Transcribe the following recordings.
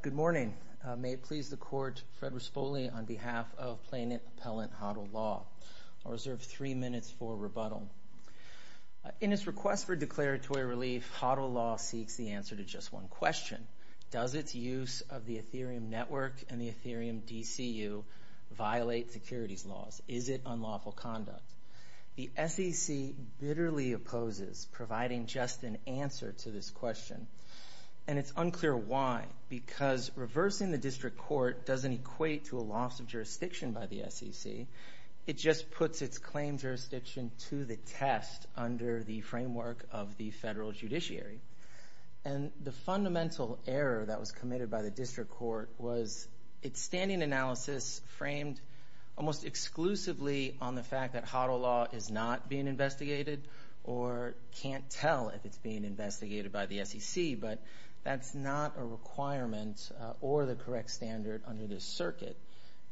Good morning. May it please the Court, Fred Rispoli, on behalf of plaintiff appellant Hodl Law. I'll reserve three minutes for rebuttal. In his request for declaratory relief, Hodl Law seeks the answer to just one question. Does its use of the Ethereum network and the Ethereum DCU violate securities laws? Is it unlawful conduct? The SEC bitterly opposes providing just an answer to this question. And it's unclear why, because reversing the district court doesn't equate to a loss of jurisdiction by the SEC. It just puts its claim jurisdiction to the test under the framework of the federal judiciary. And the fundamental error that was committed by the district court was its standing analysis framed almost exclusively on the fact that Hodl Law is not being investigated or can't tell if it's being investigated by the SEC, but that's not a requirement or the correct standard under this circuit.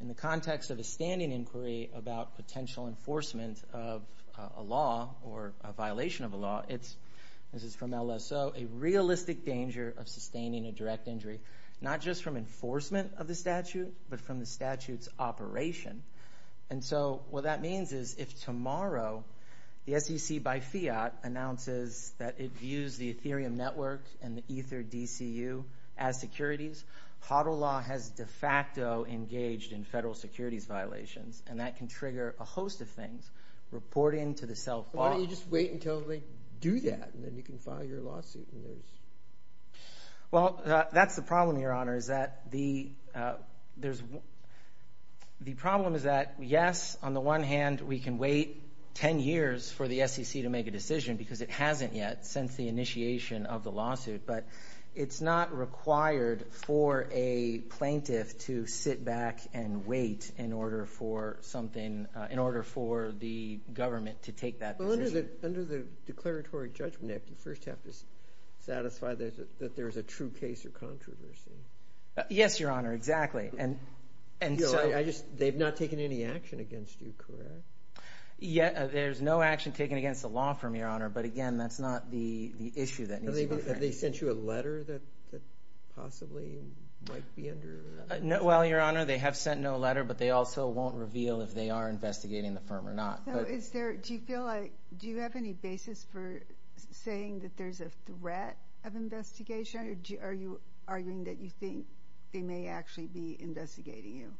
In the context of a standing inquiry about potential enforcement of a law or a violation of a law, it's, this is from LSO, a realistic danger of sustaining a direct injury, not just from enforcement of the statute, but from the statute's operation. And so what that means is if tomorrow the SEC by fiat announces that it views the Ethereum network and the Ether DCU as securities, Hodl Law has de facto engaged in federal securities violations, and that can trigger a host of violations, reporting to the self-bond. Why don't you just wait until they do that, and then you can file your lawsuit and there's... Well, that's the problem, Your Honor, is that the problem is that, yes, on the one hand, we can wait 10 years for the SEC to make a decision because it hasn't yet since the initiation of the lawsuit, but it's not required for a plaintiff to sit back and wait in order for something, in order for the government to take that decision. Well, under the Declaratory Judgment Act, you first have to satisfy that there's a true case of controversy. Yes, Your Honor, exactly. And so... They've not taken any action against you, correct? There's no action taken against the law firm, Your Honor, but again, that's not the issue that needs to be... Have they sent you a letter that you possibly might be under... Well, Your Honor, they have sent no letter, but they also won't reveal if they are investigating the firm or not. Do you feel like... Do you have any basis for saying that there's a threat of investigation, or are you arguing that you think they may actually be investigating you?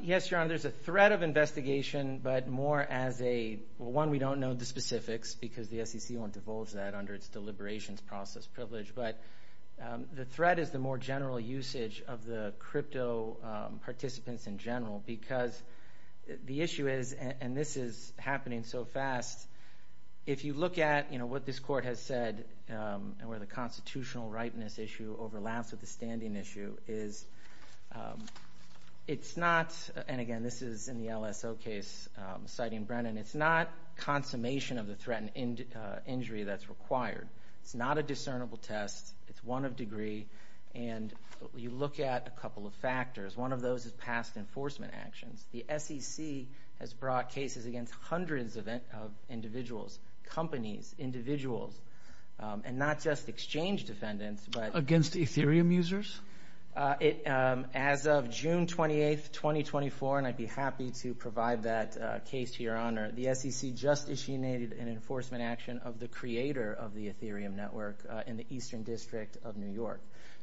Yes, Your Honor, there's a threat of investigation, but more as a... One, we don't know the specifics because the SEC won't divulge that under its deliberations process privilege, but the threat is the more general usage of the crypto participants in general, because the issue is, and this is happening so fast, if you look at what this Court has said, and where the constitutional rightness issue overlaps with the standing issue, is it's not... And again, this is in the LSO case, citing Brennan. It's not consummation of the threat and injury that's required. It's not a discernible test. It's one of degree, and you look at a couple of factors. One of those is past enforcement actions. The SEC has brought cases against hundreds of individuals, companies, individuals, and not just exchange defendants, but... Against Ethereum users? As of June 28th, 2024, and I'd be happy to provide that case to Your Honor, the SEC just issued an enforcement action of the creator of the Ethereum network in the Eastern District of New York.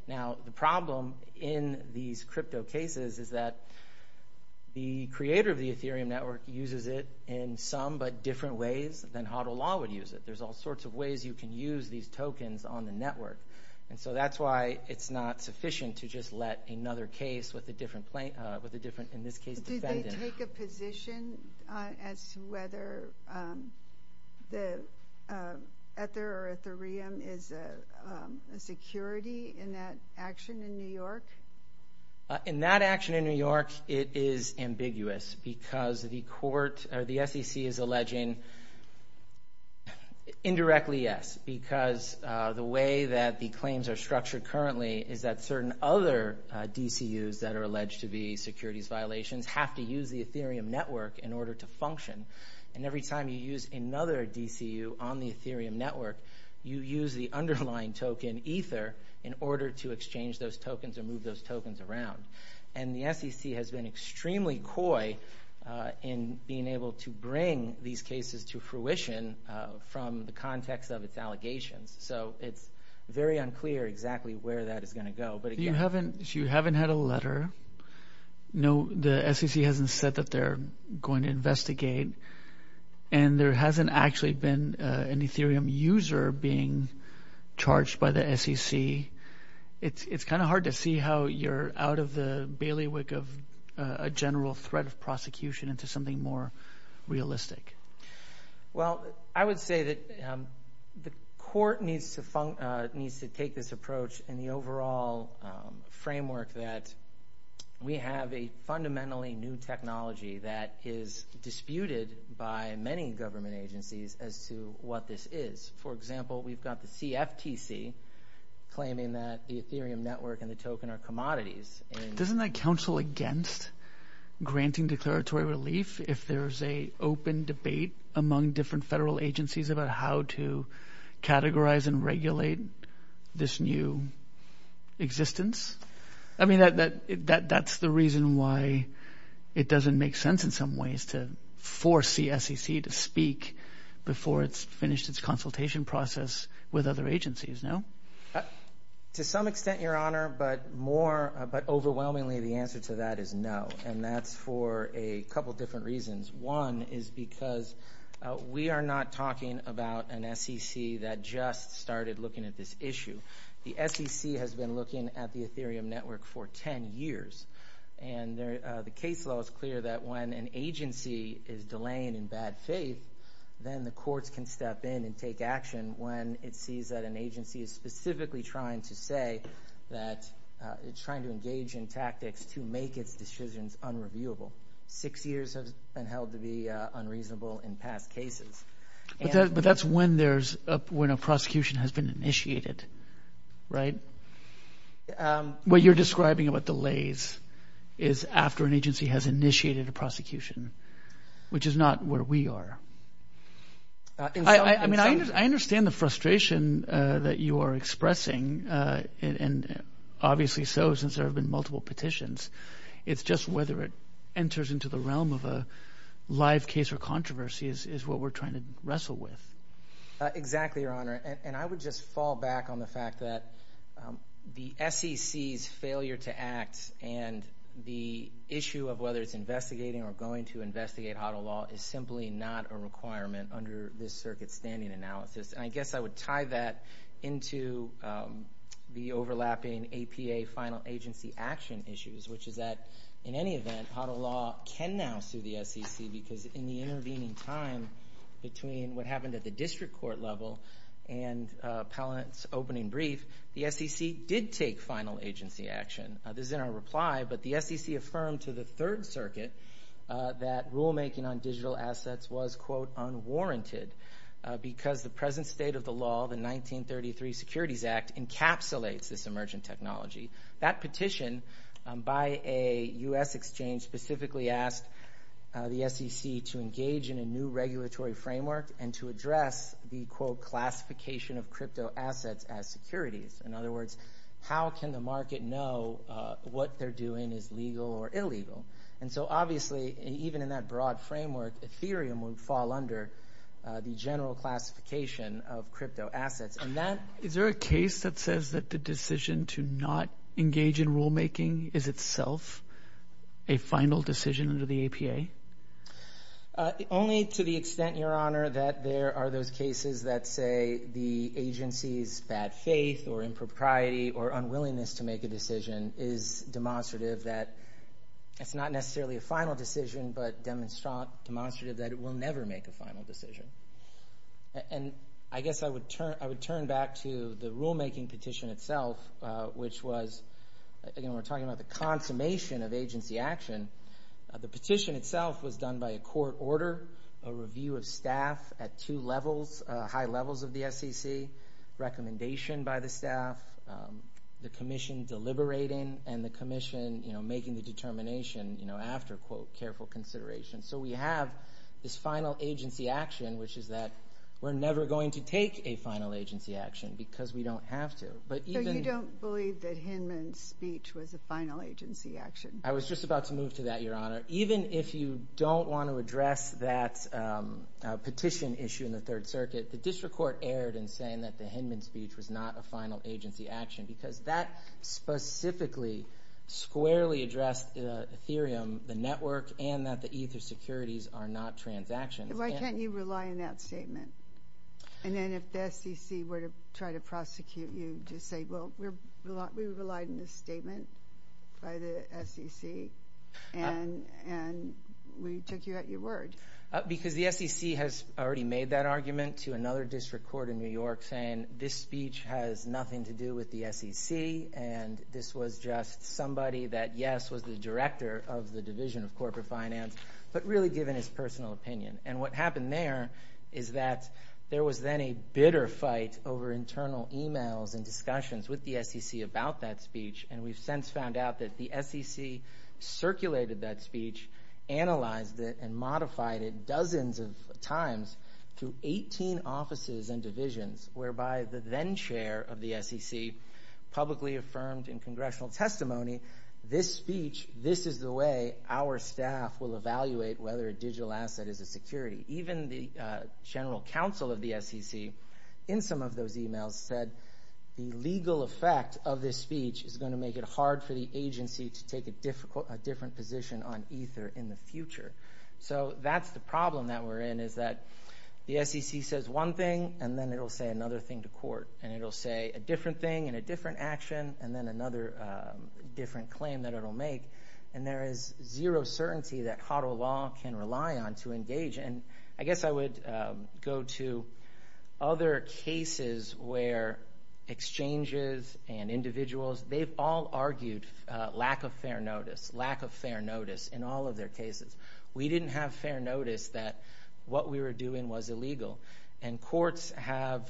Now, the problem in these crypto cases is that the creator of the Ethereum network uses it in some, but different ways than HODL law would use it. There's all sorts of ways you can use these tokens on the network, and so that's why it's not sufficient to just let another case with a different, in this case, defendant... Did they take a position as to whether the Ether or Ethereum is a security in that action in New York? In that action in New York, it is ambiguous, because the court, or the SEC is alleging indirectly, yes, because the way that the claims are structured currently is that certain other DCUs that are alleged to be securities violations have to use the Ethereum network in order to function. And every time you use another DCU on the Ethereum network, you use the underlying token, Ether, in order to exchange those tokens or move those tokens around. And the SEC has been extremely coy in being able to bring these cases to fruition from the context of its allegations. So it's very unclear exactly where that is going to go, but again... You haven't had a letter. No, the SEC hasn't said that they're going to investigate, and there hasn't actually been an Ethereum user being charged by the SEC. It's kind of hard to see how you're out of the bailiwick of a general threat of prosecution into something more realistic. Well, I would say that the court needs to take this approach in the overall framework that we have a fundamentally new technology that is disputed by many government agencies as to what this is. For example, we've got the CFTC claiming that the Ethereum network and the token are commodities. Doesn't that counsel against granting declaratory relief if there's an open debate among different federal agencies about how to categorize and regulate this new existence? I mean, that's the reason why it doesn't make sense in some ways to force the SEC to speak before it's finished its consultation process with other agencies, no? To some extent, Your Honor, but overwhelmingly the answer to that is no, and that's for a couple different reasons. One is because we are not talking about an SEC that just started looking at this issue. The SEC has been looking at the Ethereum network for 10 years, and the case law is clear that when an agency is delaying in bad faith, then the courts can step in and take action when it sees that an agency is specifically trying to say that it's trying to engage in tactics to make its decisions unreviewable. Six years has been held to be unreasonable in past cases. But that's when a prosecution has been initiated, right? What you're describing about delays is after an agency has initiated a prosecution, which is not where we are. I understand the frustration that you are expressing, and obviously so since there have been multiple petitions. It's just whether it enters into the realm of a live case or controversy is what we're trying to wrestle with. Exactly, Your Honor, and I would just fall back on the fact that the SEC's failure to act, and the issue of whether it's investigating or going to investigate HODL law is simply not a requirement under this circuit-standing analysis. I guess I would tie that into the overlapping APA final agency action issues, which is that in any event, HODL law can now sue the SEC because in the intervening time between what happened at the district court level and Pallant's opening brief, the SEC did take final agency action. This is in our reply, but the SEC affirmed to the Third Circuit that rulemaking on digital assets was, quote, unwarranted because the present state of the law, the 1933 Securities Act, encapsulates this emergent technology. That petition by a U.S. exchange specifically asked the SEC to engage in a new regulatory framework and to address the, quote, classification of cryptoassets as securities. In other words, how can the market know what they're doing is legal or illegal? Obviously, even in that broad framework, Ethereum would fall under the general classification of cryptoassets. Is there a case that says that the decision to not engage in rulemaking is itself a final decision under the APA? Only to the extent, Your Honor, that there are those cases that say the agency's bad faith or impropriety or unwillingness to make a decision is demonstrative that it's not necessarily a final decision, but demonstrative that it will never make a final decision. I guess I would turn back to the rulemaking petition itself, which was, again, we're talking about the consummation of agency action. The petition itself was done by a court order, a review of staff at two levels, high levels of the SEC, recommendation by the staff, the commission deliberating, and the commission making the determination after, quote, careful consideration. We have this final agency action, which is that we're never going to take a final agency action because we don't have to. So you don't believe that Hinman's speech was a final agency action? I was just about to move to that, Your Honor. Even if you don't want to address that petition issue in the Third Circuit, the district court erred in saying that the Hinman speech was not a final agency action because that specifically squarely addressed Ethereum, the network, and that the Ether securities are not transactions. Why can't you rely on that statement? And then if the SEC were to try to prosecute you, just say, well, we relied on this statement by the SEC, and we took you at your word. Because the SEC has already made that argument to another district court in New York saying this speech has nothing to do with the SEC, and this was just somebody that, yes, was the director of the Division of Corporate Finance, but really given his personal opinion. And what happened there is that there was then a bitter fight over internal emails and discussions with the SEC about that speech, and we've since found out that the SEC circulated that speech, analyzed it, and modified it dozens of times through 18 offices and divisions, whereby the then chair of the SEC publicly affirmed in congressional testimony, this speech, this is the way our staff will evaluate whether a digital asset is a security. Even the general counsel of the SEC in some of those emails said the legal effect of this speech is going to make it hard for the agency to take a different position on Ether in the future. So that's the problem that we're in, is that the SEC says one thing, and then it'll say another thing to court, and it'll say a different thing and a different action, and then another different claim that it'll make, and there is zero certainty that HODL law can rely on to engage. And I guess I would go to other cases where exchanges and individuals, they've all argued lack of fair notice, lack of fair notice in all of their cases. We didn't have fair notice that what we were doing was illegal, and courts have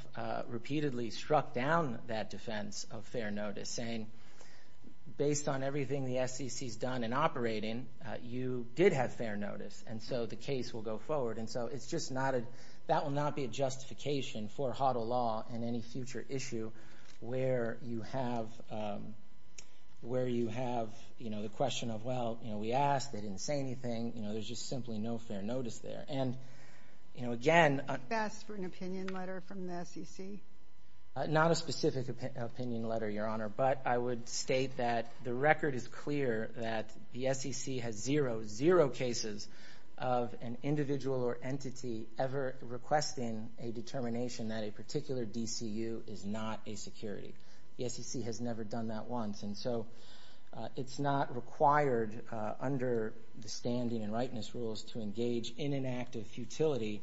repeatedly struck down that defense of fair notice, saying, based on everything the SEC's done in operating, you did have fair notice, and so the case will go forward. And so it's just not a, that will not be a justification for HODL law in any future issue where you have the question of, well, we asked, they didn't say anything, there's just simply no fair notice there. And, you know, again... Do you ask for an opinion letter from the SEC? Not a specific opinion letter, Your Honor, but I would state that the record is clear that the SEC has zero, zero cases of an individual or entity ever requesting a determination that a particular DCU is not a security. The SEC has never done that once, and so it's not required under the standing and rightness rules to engage in an act of futility.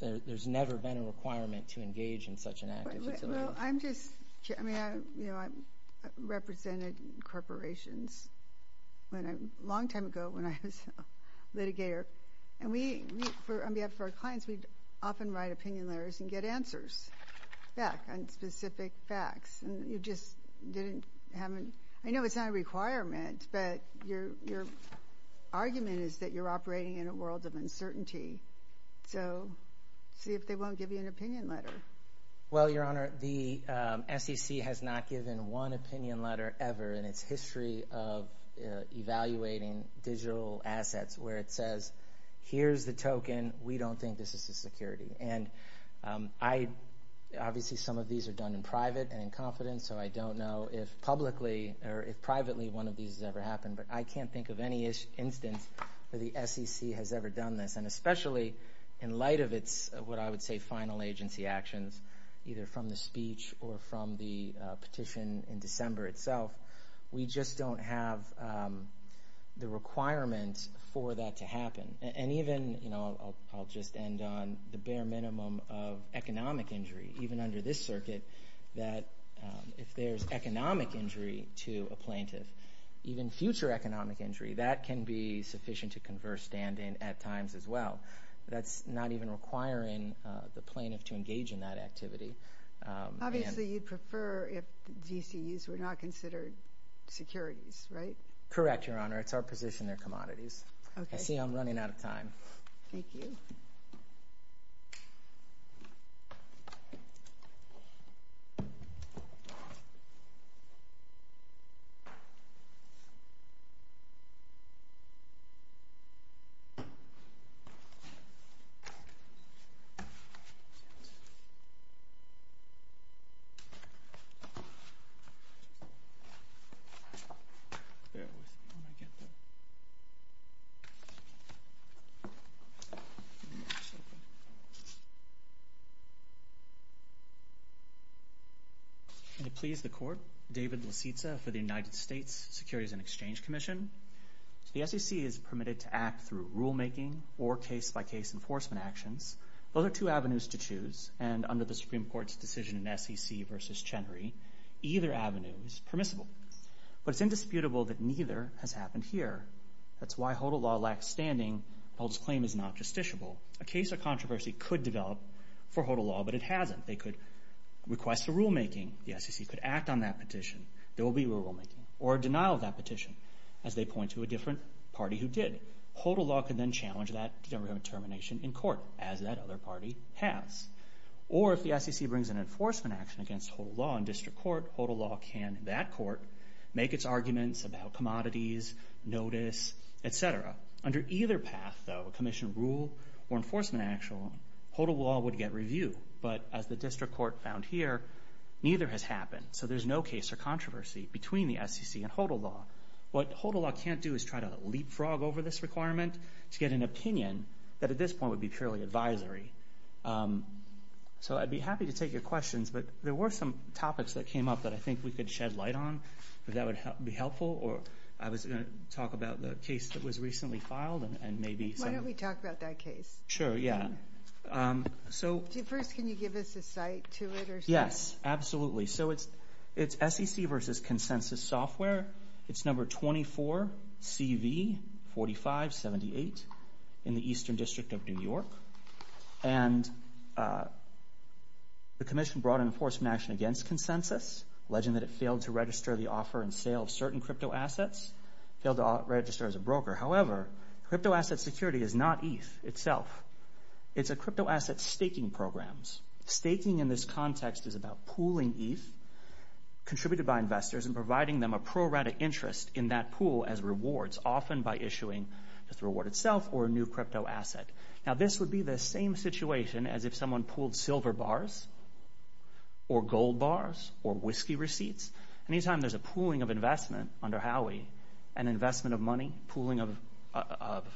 There's never been a requirement to engage in such an act of futility. Well, I'm just, I mean, I represented corporations a long time ago when I was a litigator, and we, on behalf of our clients, we'd often write opinion letters and get answers back on specific facts, and you just didn't have a, I know it's not a requirement, but your argument is that you're operating in a world of uncertainty, so see if they won't give you an opinion letter. Well, Your Honor, the SEC has not given one opinion letter ever in its history of evaluating digital assets where it says, here's the token, we don't think this is a security. And I, obviously some of these are done in private and in confidence, so I don't know if publicly or if privately one of these has ever happened, but I can't think of any instance where the SEC has ever done this, and especially in light of its, what I would say, final agency actions, either from the speech or from the petition in December itself, we just don't have the requirement for that to happen. And even, you know, I'll just end on the bare point, if there's economic injury, even under this circuit, that if there's economic injury to a plaintiff, even future economic injury, that can be sufficient to converse stand-in at times as well. That's not even requiring the plaintiff to engage in that activity. Obviously, you'd prefer if GCUs were not considered securities, right? Correct, Your Honor, it's our position they're commodities. I see I'm running out of time. May it please the Court, David Lisitsa for the United States Securities and Exchange Commission. The SEC is permitted to act through rule-making or case-by-case enforcement actions. Those are two avenues to choose, and under the Supreme Court's decision in SEC v. Chenry, either avenue is permissible. But it's indisputable that neither has happened here. That's why HODL law lacks standing and HODL's claim is not justiciable. A case or controversy could develop for HODL law, but it hasn't. They could request a rule-making. The SEC could act on that petition. There will be a rule-making or a denial of that petition, as they point to a different party who did. HODL law could then challenge that determination in court, as that other party has. Or if the SEC brings an enforcement action against HODL law in district court, HODL law can, in that court, make its arguments about commodities, notice, et cetera. Under either path, though, a commission rule or enforcement action, HODL law would get review. But as the district court found here, neither has happened. So there's no case or controversy between the SEC and HODL law. What HODL law can't do is try to leapfrog over this requirement to get an opinion that at this point would be purely advisory. So I'd be happy to take your questions, but there were some topics that came up that I could shed light on, if that would be helpful. I was going to talk about the case that was recently filed. Why don't we talk about that case? Sure, yeah. First, can you give us a site to it? Yes, absolutely. So it's SEC v. Consensus Software. It's number 24CV4578 in the Eastern District of New York. The commission brought an enforcement action against Consensus, alleging that it failed to register the offer and sale of certain cryptoassets, failed to register as a broker. However, cryptoasset security is not ETH itself. It's a cryptoasset staking program. Staking in this context is about pooling ETH contributed by investors and providing them a pro-rata interest in that pool as rewards, often by issuing the reward itself or a new cryptoasset. Now, this would be the same situation as if someone pooled silver bars or gold bars or whiskey receipts. Anytime there's a pooling of investment under Howey, an investment of money, pooling of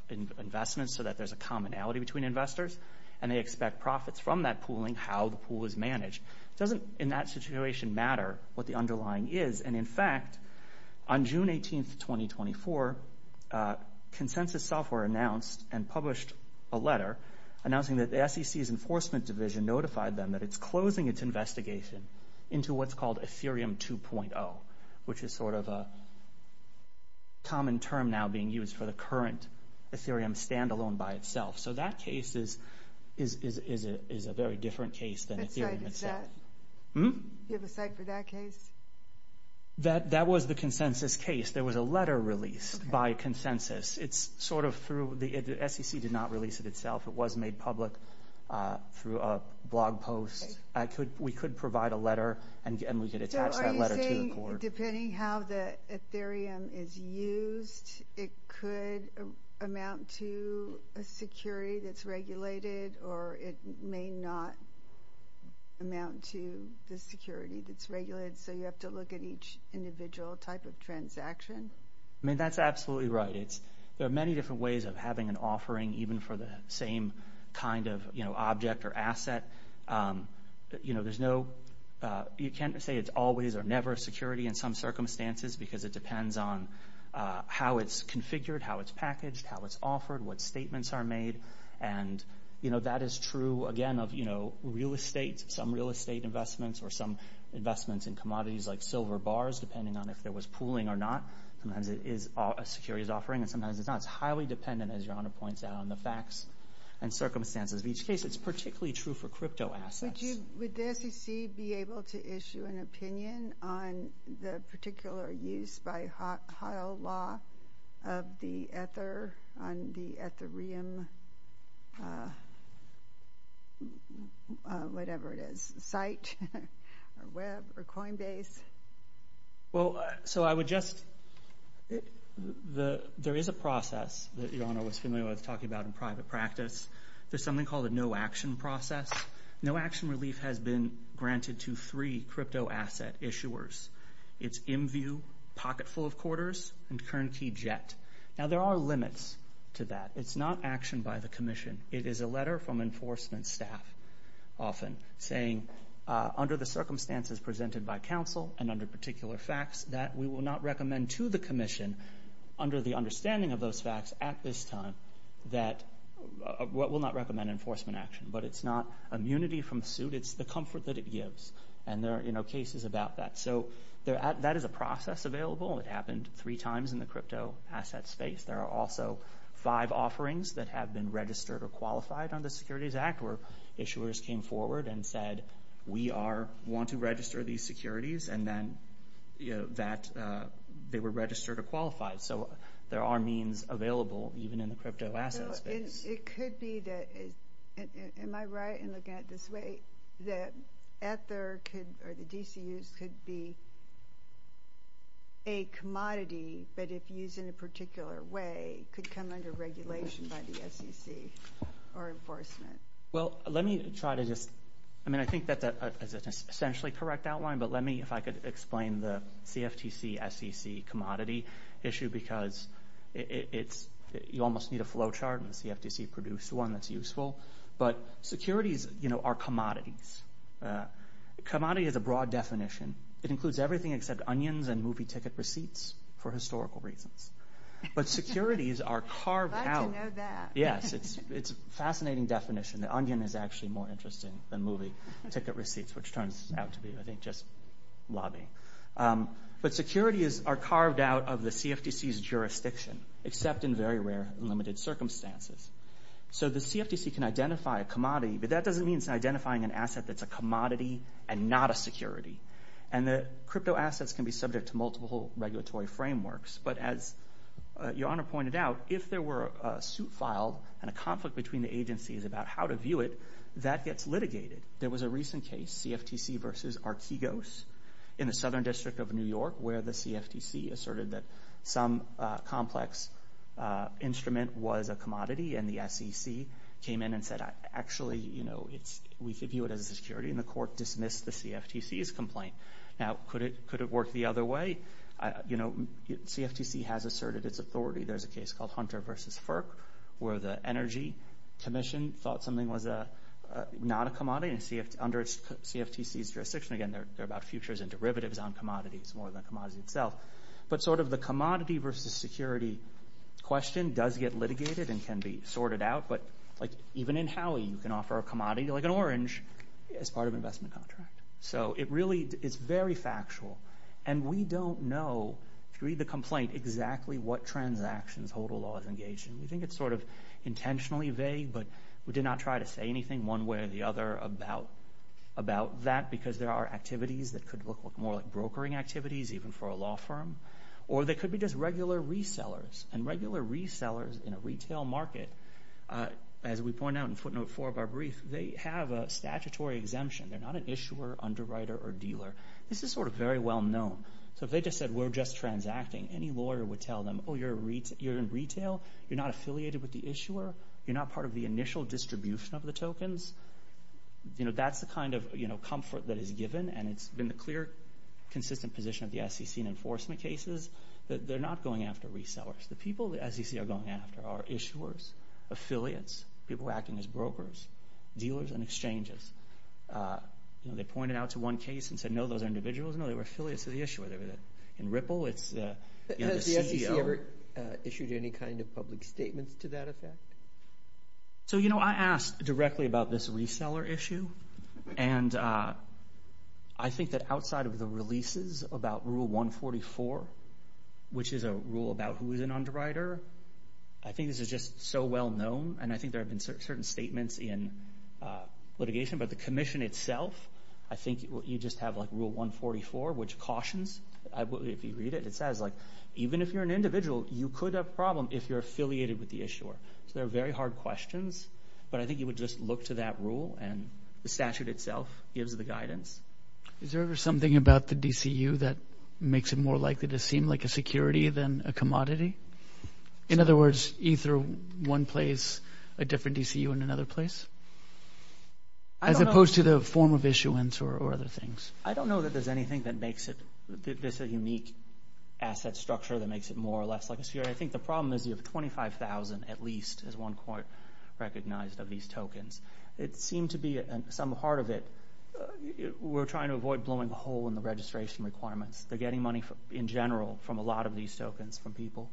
investments so that there's a commonality between investors, and they expect profits from that pooling, how the pool is managed, doesn't in that situation matter what the underlying is. In fact, on June 18, 2024, Consensus Software announced and published a letter announcing that the SEC's Enforcement Division notified them that it's closing its investigation into what's called Ethereum 2.0, which is sort of a common term now being used for the current Ethereum standalone by itself. So that case is a very different case than Ethereum itself. Do you have a site for that case? That was the Consensus case. There was a letter released by Consensus. It's sort of through the SEC did not release it itself. It was made public through a blog post. We could provide a letter, and we could attach that letter to the court. So are you saying, depending how the Ethereum is used, it could amount to a security that's regulated, or it may not amount to the security that's regulated, so you have to look at each individual type of transaction? I mean, that's absolutely right. There are many different ways of having an offering, even for the same kind of object or asset. You can't say it's always or never a security in some circumstances, because it depends on how it's configured, how it's packaged, how it's offered, what statements are made. And that is true, again, of real estate, some real estate investments or some investments in commodities like silver bars, depending on if there was pooling or not. Sometimes it is a securities offering, and sometimes it's not. It's highly dependent, as Your Honor points out, on the facts and circumstances of each case. It's particularly true for crypto assets. Would the SEC be able to issue an opinion on the particular use by HIO law of the Ether on the Ethereum, whatever it is, site, or web, or Coinbase? So I would just, there is a process that Your Honor was familiar with talking about in private practice. There's something called a no-action process. No-action relief has been granted to three crypto asset issuers. It's IMVU, Pocketful of Quarters, and Kern Key Jet. Now, there are limits to that. It's not action by the Commission. It is a letter from enforcement staff often saying, under the circumstances presented by counsel and under particular facts, that we will not recommend to the Commission, under the understanding of those facts at this time, that we will not recommend enforcement action. But it's not immunity from suit. It's the comfort that it gives. And there are cases about that. So that is a process available. It happened three times in the crypto asset space. There are also five offerings that have been registered or qualified under the Securities Act, where issuers came forward and said, we want to register these securities. And then they were registered or qualified. So there are means available, even in the crypto asset space. It could be that, am I right in looking at it this way, that Ether could, or the DCUs, could be a commodity, but if used in a particular way, could come under regulation by the SEC or enforcement. Well, let me try to just, I mean, I think that that is an essentially correct outline, but let me, if I could explain the CFTC-SEC commodity issue, because it's, you almost need a flowchart, and the CFTC produced one that's useful. But securities are commodities. Commodity is a broad definition. It includes everything except onions and movie ticket receipts, for historical reasons. But securities are carved out. I'd like to know that. Yes, it's a fascinating definition. The onion is actually more interesting than movie ticket receipts, which turns out to be, I think, just lobbying. But securities are carved out of the CFTC's jurisdiction, except in very rare and limited circumstances. So the CFTC can identify a commodity, but that doesn't mean it's identifying an asset that's a commodity and not a security. And the crypto assets can be subject to multiple regulatory frameworks, but as Your Honor pointed out, if there were a suit filed and a conflict between the agencies about how to view it, that gets litigated. There was a recent case, CFTC versus Archegos, in the Southern District of New York, where the CFTC asserted that some complex instrument was a commodity, and the SEC came in and said, actually, we could view it as a security, and the court dismissed the CFTC's complaint. Now, could it work the other way? CFTC has asserted its authority. There's a case called where the commission thought something was not a commodity, and under CFTC's jurisdiction, again, they're about futures and derivatives on commodities more than commodities itself. But sort of the commodity versus security question does get litigated and can be sorted out, but even in Howey, you can offer a commodity, like an orange, as part of an investment contract. So it really is very factual, and we don't know, if you read the complaint, exactly what transactions HODL law is engaged in. We think it's sort of intentionally vague, but we did not try to say anything one way or the other about that, because there are activities that could look more like brokering activities, even for a law firm. Or they could be just regular resellers, and regular resellers in a retail market, as we point out in footnote four of our brief, they have a statutory exemption. They're not an issuer, underwriter, or dealer. This is sort of very well known. So if they just said, we're just transacting, any lawyer would tell them, oh, you're in retail? You're not affiliated with the issuer? You're not part of the initial distribution of the tokens? That's the kind of comfort that is given, and it's been the clear, consistent position of the SEC in enforcement cases, that they're not going after resellers. The people the SEC are going after are issuers, affiliates, people acting as brokers, dealers, and exchanges. They pointed out to one case and said, no, those are individuals? No, they were affiliates of the issuer. In Ripple, it's the CEO. Has the SEC ever issued any kind of public statements to that effect? So I asked directly about this reseller issue, and I think that outside of the releases about rule 144, which is a rule about who is an underwriter, I think this is just so well known, and I think there have been certain statements in litigation, but the commission itself, I think you just have rule 144, which cautions, if you read it, it says, even if you're an individual, you could have a problem if you're affiliated with the issuer. So they're very hard questions, but I think you would just look to that rule, and the statute itself gives the guidance. Is there ever something about the DCU that makes it more likely to seem like a security than a commodity? In other words, ether one place, a different DCU in another place? As opposed to the form of issuance or other things. I don't know that there's anything that makes it, there's a unique asset structure that makes it more or less like a security. I think the problem is you have 25,000 at least, as one court recognized, of these tokens. It seemed to be, some part of it, we're trying to avoid blowing a hole in the registration requirements. They're getting money in general from a lot of these tokens from people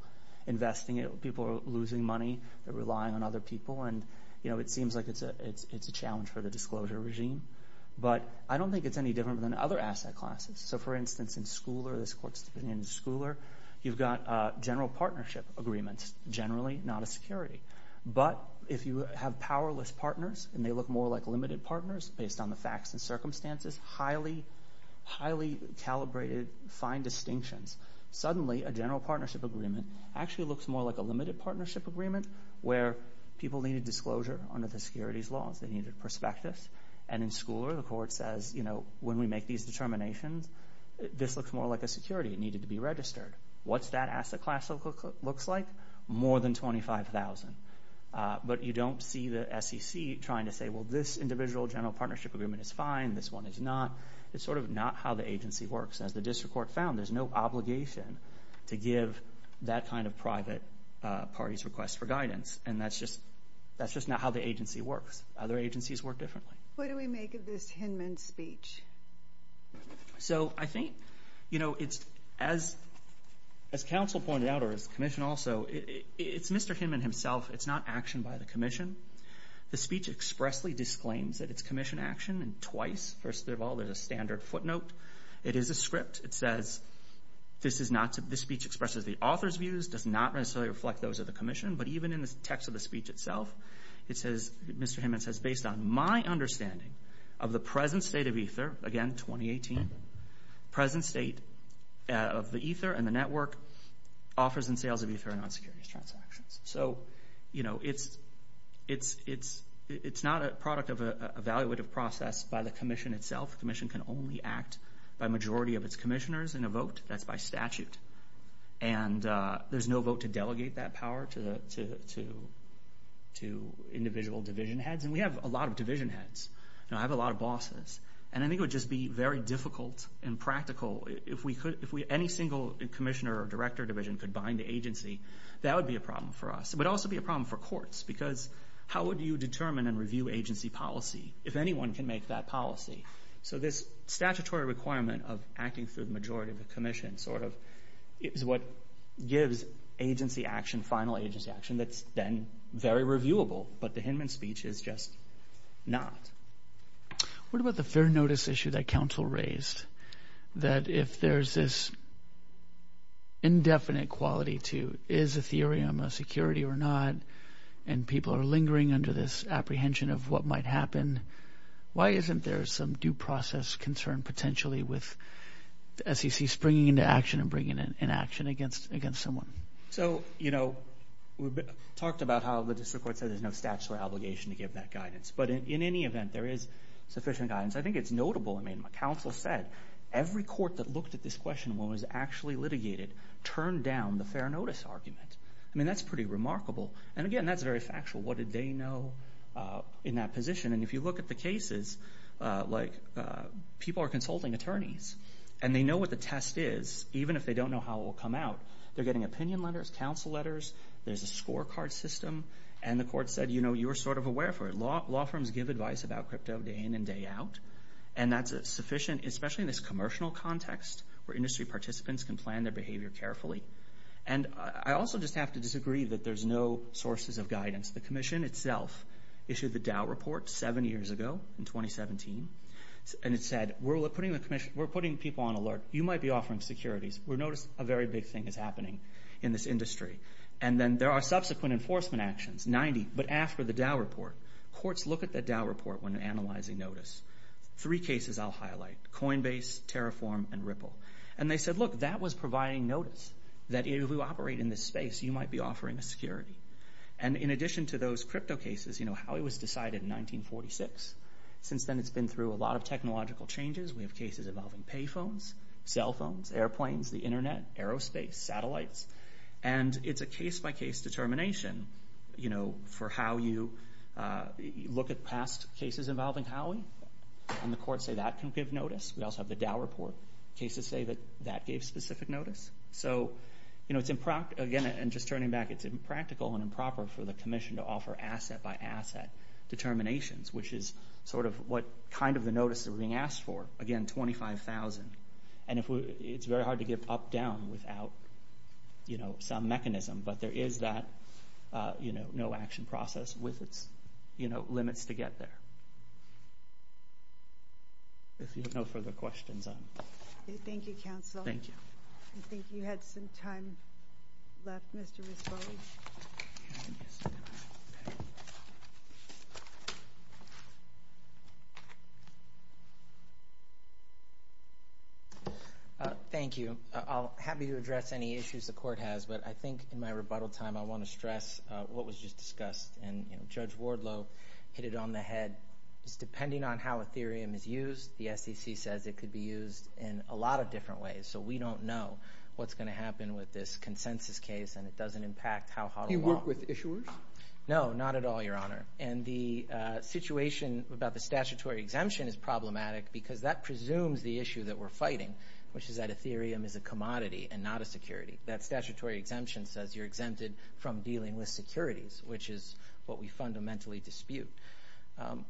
investing it, people are losing money, they're relying on other people, and it seems like it's a challenge for the disclosure regime. But I don't think it's any different than other asset classes. So for instance, in Schooler, this court's opinion in Schooler, you've got general partnership agreements, generally not a security. But if you have powerless partners, and they look more like limited partners based on the facts and circumstances, highly calibrated, fine distinctions, suddenly a general partnership agreement actually looks more like a limited partnership agreement where people need a disclosure under the securities laws. They need a prospectus. And in Schooler, the court says, you know, when we make these determinations, this looks more like a security. It needed to be registered. What's that asset class looks like? More than 25,000. But you don't see the SEC trying to say, well, this individual general partnership agreement is fine, this one is not. It's sort of not how the agency works. As the district court found, there's no obligation to give that kind of private party's request for guidance. And that's just not how the agency works. Other agencies work differently. What do we make of this Hinman speech? So I think, you know, as counsel pointed out, or as the commission also, it's Mr. Hinman himself. It's not action by the commission. The speech expressly disclaims that it's commission action. And twice, first of all, there's a standard footnote. It is a script. It says, this speech expresses the author's views, does not necessarily reflect those of the commission. But even in the text of the speech itself, it says, Mr. Hinman says, based on my understanding of the present state of Ether, again, 2018, present state of the Ether and the network offers and sales of Ether and non-securities transactions. So, you know, it's not a product of an evaluative process by the commission itself. The commission can only act by majority of its commissioners in a vote. That's by statute. And there's no vote to delegate that power to individual division heads. And we have a lot of division heads. And I have a lot of bosses. And I think it would just be very difficult and practical if any single commissioner or director division could bind the agency. That would be a problem for us. But also be a problem for courts. Because how would you determine and review agency policy if anyone can make that policy? So this statutory requirement of acting through the majority of the commission sort of is what gives agency action, final agency action that's then very reviewable. But the Hinman speech is just not. What about the fair notice issue that counsel raised? That if there's this indefinite quality to is Ethereum a security or not, and people are lingering under this apprehension of what might happen, why isn't there some due process concern potentially with the SEC springing into action and bringing in action against someone? So, you know, we talked about how the district court said there's no statutory obligation to give that guidance. But in any event, there is sufficient guidance. I think it's notable. I mean, counsel said every court that looked at this question when it was actually litigated turned down the fair notice argument. I mean, that's pretty remarkable. And again, that's very factual. What did they know in that position? And if you look at the cases, like people are consulting attorneys, and they know what the test is, even if they don't know how it will come out. They're getting opinion letters, counsel letters. There's a scorecard system. And the court said, you know, you're sort of aware for it. Law firms give advice about crypto day in and day out. And that's sufficient, especially in this commercial context where industry participants can plan their behavior carefully. And I also just have to disagree that there's no sources of guidance. The commission itself issued the Dow report seven years ago in 2017. And it said, we're putting people on alert. You might be offering securities. We notice a very big thing is happening in this industry. And then there are subsequent enforcement actions, 90. But after the Dow report, courts look at the Dow report when analyzing notice. Three cases I'll highlight. Coinbase, Terraform, and Ripple. And they said, look, that was providing notice that if we operate in this space, you might be offering a security. And in addition to those crypto cases, you know, Howey was decided in 1946. Since then, it's been through a lot of technological changes. We have cases involving pay phones, cell phones, airplanes, the internet, aerospace, satellites. And it's a case-by-case determination, you know, for how you look at past cases involving Howey. And the courts say that can give notice. We also have the Dow report. Cases say that that gave specific notice. So, you know, again, and just turning back, it's impractical and improper for the commission to offer asset-by-asset determinations, which is sort of what kind of the notice that we're being asked for. Again, $25,000. And it's very hard to get up-down without, you know, some mechanism. But there is that, you know, no action process with its, you know, limits to get there. If you have no further questions, I'm... Thank you, counsel. Thank you. I think you had some time left, Mr. Rispoli. Thank you. I'm happy to address any issues the court has, but I think in my rebuttal time, I want to stress what was just discussed. And, you know, Judge Wardlow hit it on the head. It's depending on how Ethereum is used. The SEC says it could be used in a lot of different ways. So we don't know what's going to happen with this consensus case, and it doesn't impact how hot or warm... Do you work with issuers? No, not at all, Your Honor. And the situation about the statutory exemption is problematic because that presumes the issue that we're fighting, which is that Ethereum is a commodity and not a security. That statutory exemption says you're exempted from dealing with securities, which is what we fundamentally dispute.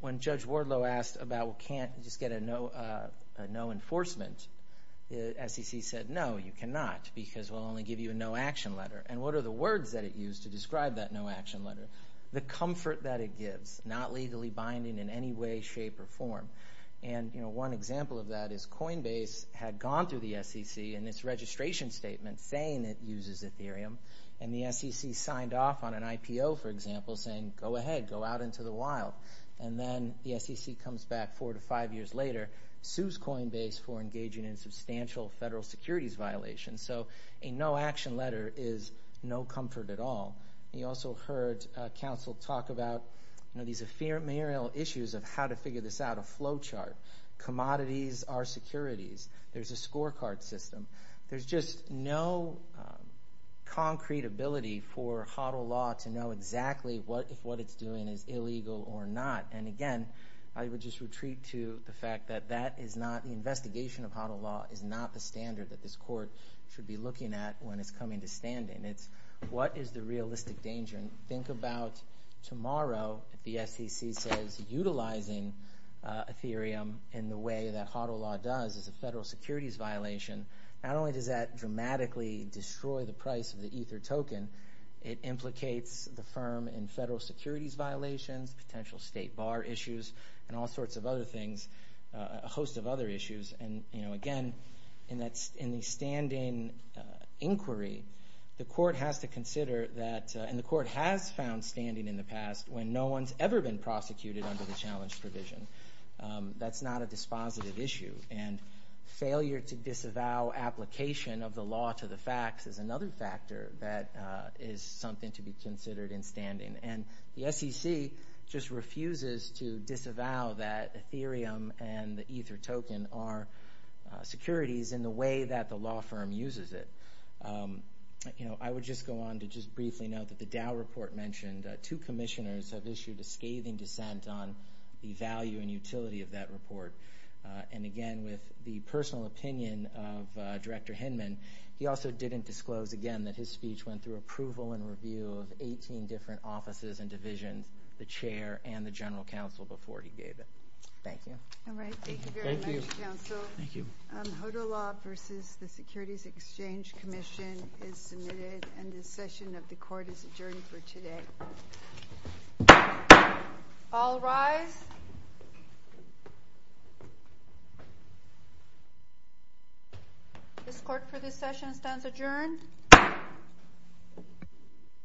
When Judge Wardlow asked about, well, can't you just get a no enforcement? The SEC said, no, you cannot because we'll only give you a no action letter. And what are the words that it used to describe that no action letter? The comfort that it gives, not legally binding in any way, shape, or form. And, you know, one example of that is Coinbase had gone through the SEC in its registration statement saying it uses Ethereum, and the SEC signed off on an IPO, for example, saying, go ahead, go out into the wild. And then the SEC comes back four to five years later, sues Coinbase for engaging in substantial federal securities violations. So a no action letter is no comfort at all. And you also heard counsel talk about, you know, these ephemeral issues of how to figure this out, a flow chart. Commodities are securities. There's a scorecard system. There's just no concrete ability for HODL law to know exactly what, if what it's doing is illegal or not. And again, I would just retreat to the fact that that is not, the investigation of HODL law is not the standard that this court should be looking at when it's coming to standing. And it's what is the realistic danger? And think about tomorrow if the SEC says utilizing Ethereum in the way that HODL law does is a federal securities violation. Not only does that dramatically destroy the price of the Ether token, it implicates the firm in federal securities violations, potential state bar issues, and all sorts of other things, a host of other issues. And, you know, again, in the standing inquiry, the court has to consider that, and the court has found standing in the past when no one's ever been prosecuted under the challenge provision. That's not a dispositive issue. And failure to disavow application of the law to the facts is another factor that is something to be considered in standing. And the SEC just refuses to disavow that Ethereum and the Ether token are securities in the way that the law firm uses it. You know, I would just go on to just briefly note that the Dow report mentioned two commissioners have issued a scathing dissent on the value and utility of that report. And again, with the personal opinion of Director Hinman, he also didn't disclose again that his speech went through approval and review of 18 different offices and divisions, the chair and the general counsel, before he gave it. Thank you. All right. Thank you very much, counsel. Thank you. HODL law versus the Securities Exchange Commission is submitted, and this session of the court is adjourned for today. All rise. This court for this session stands adjourned.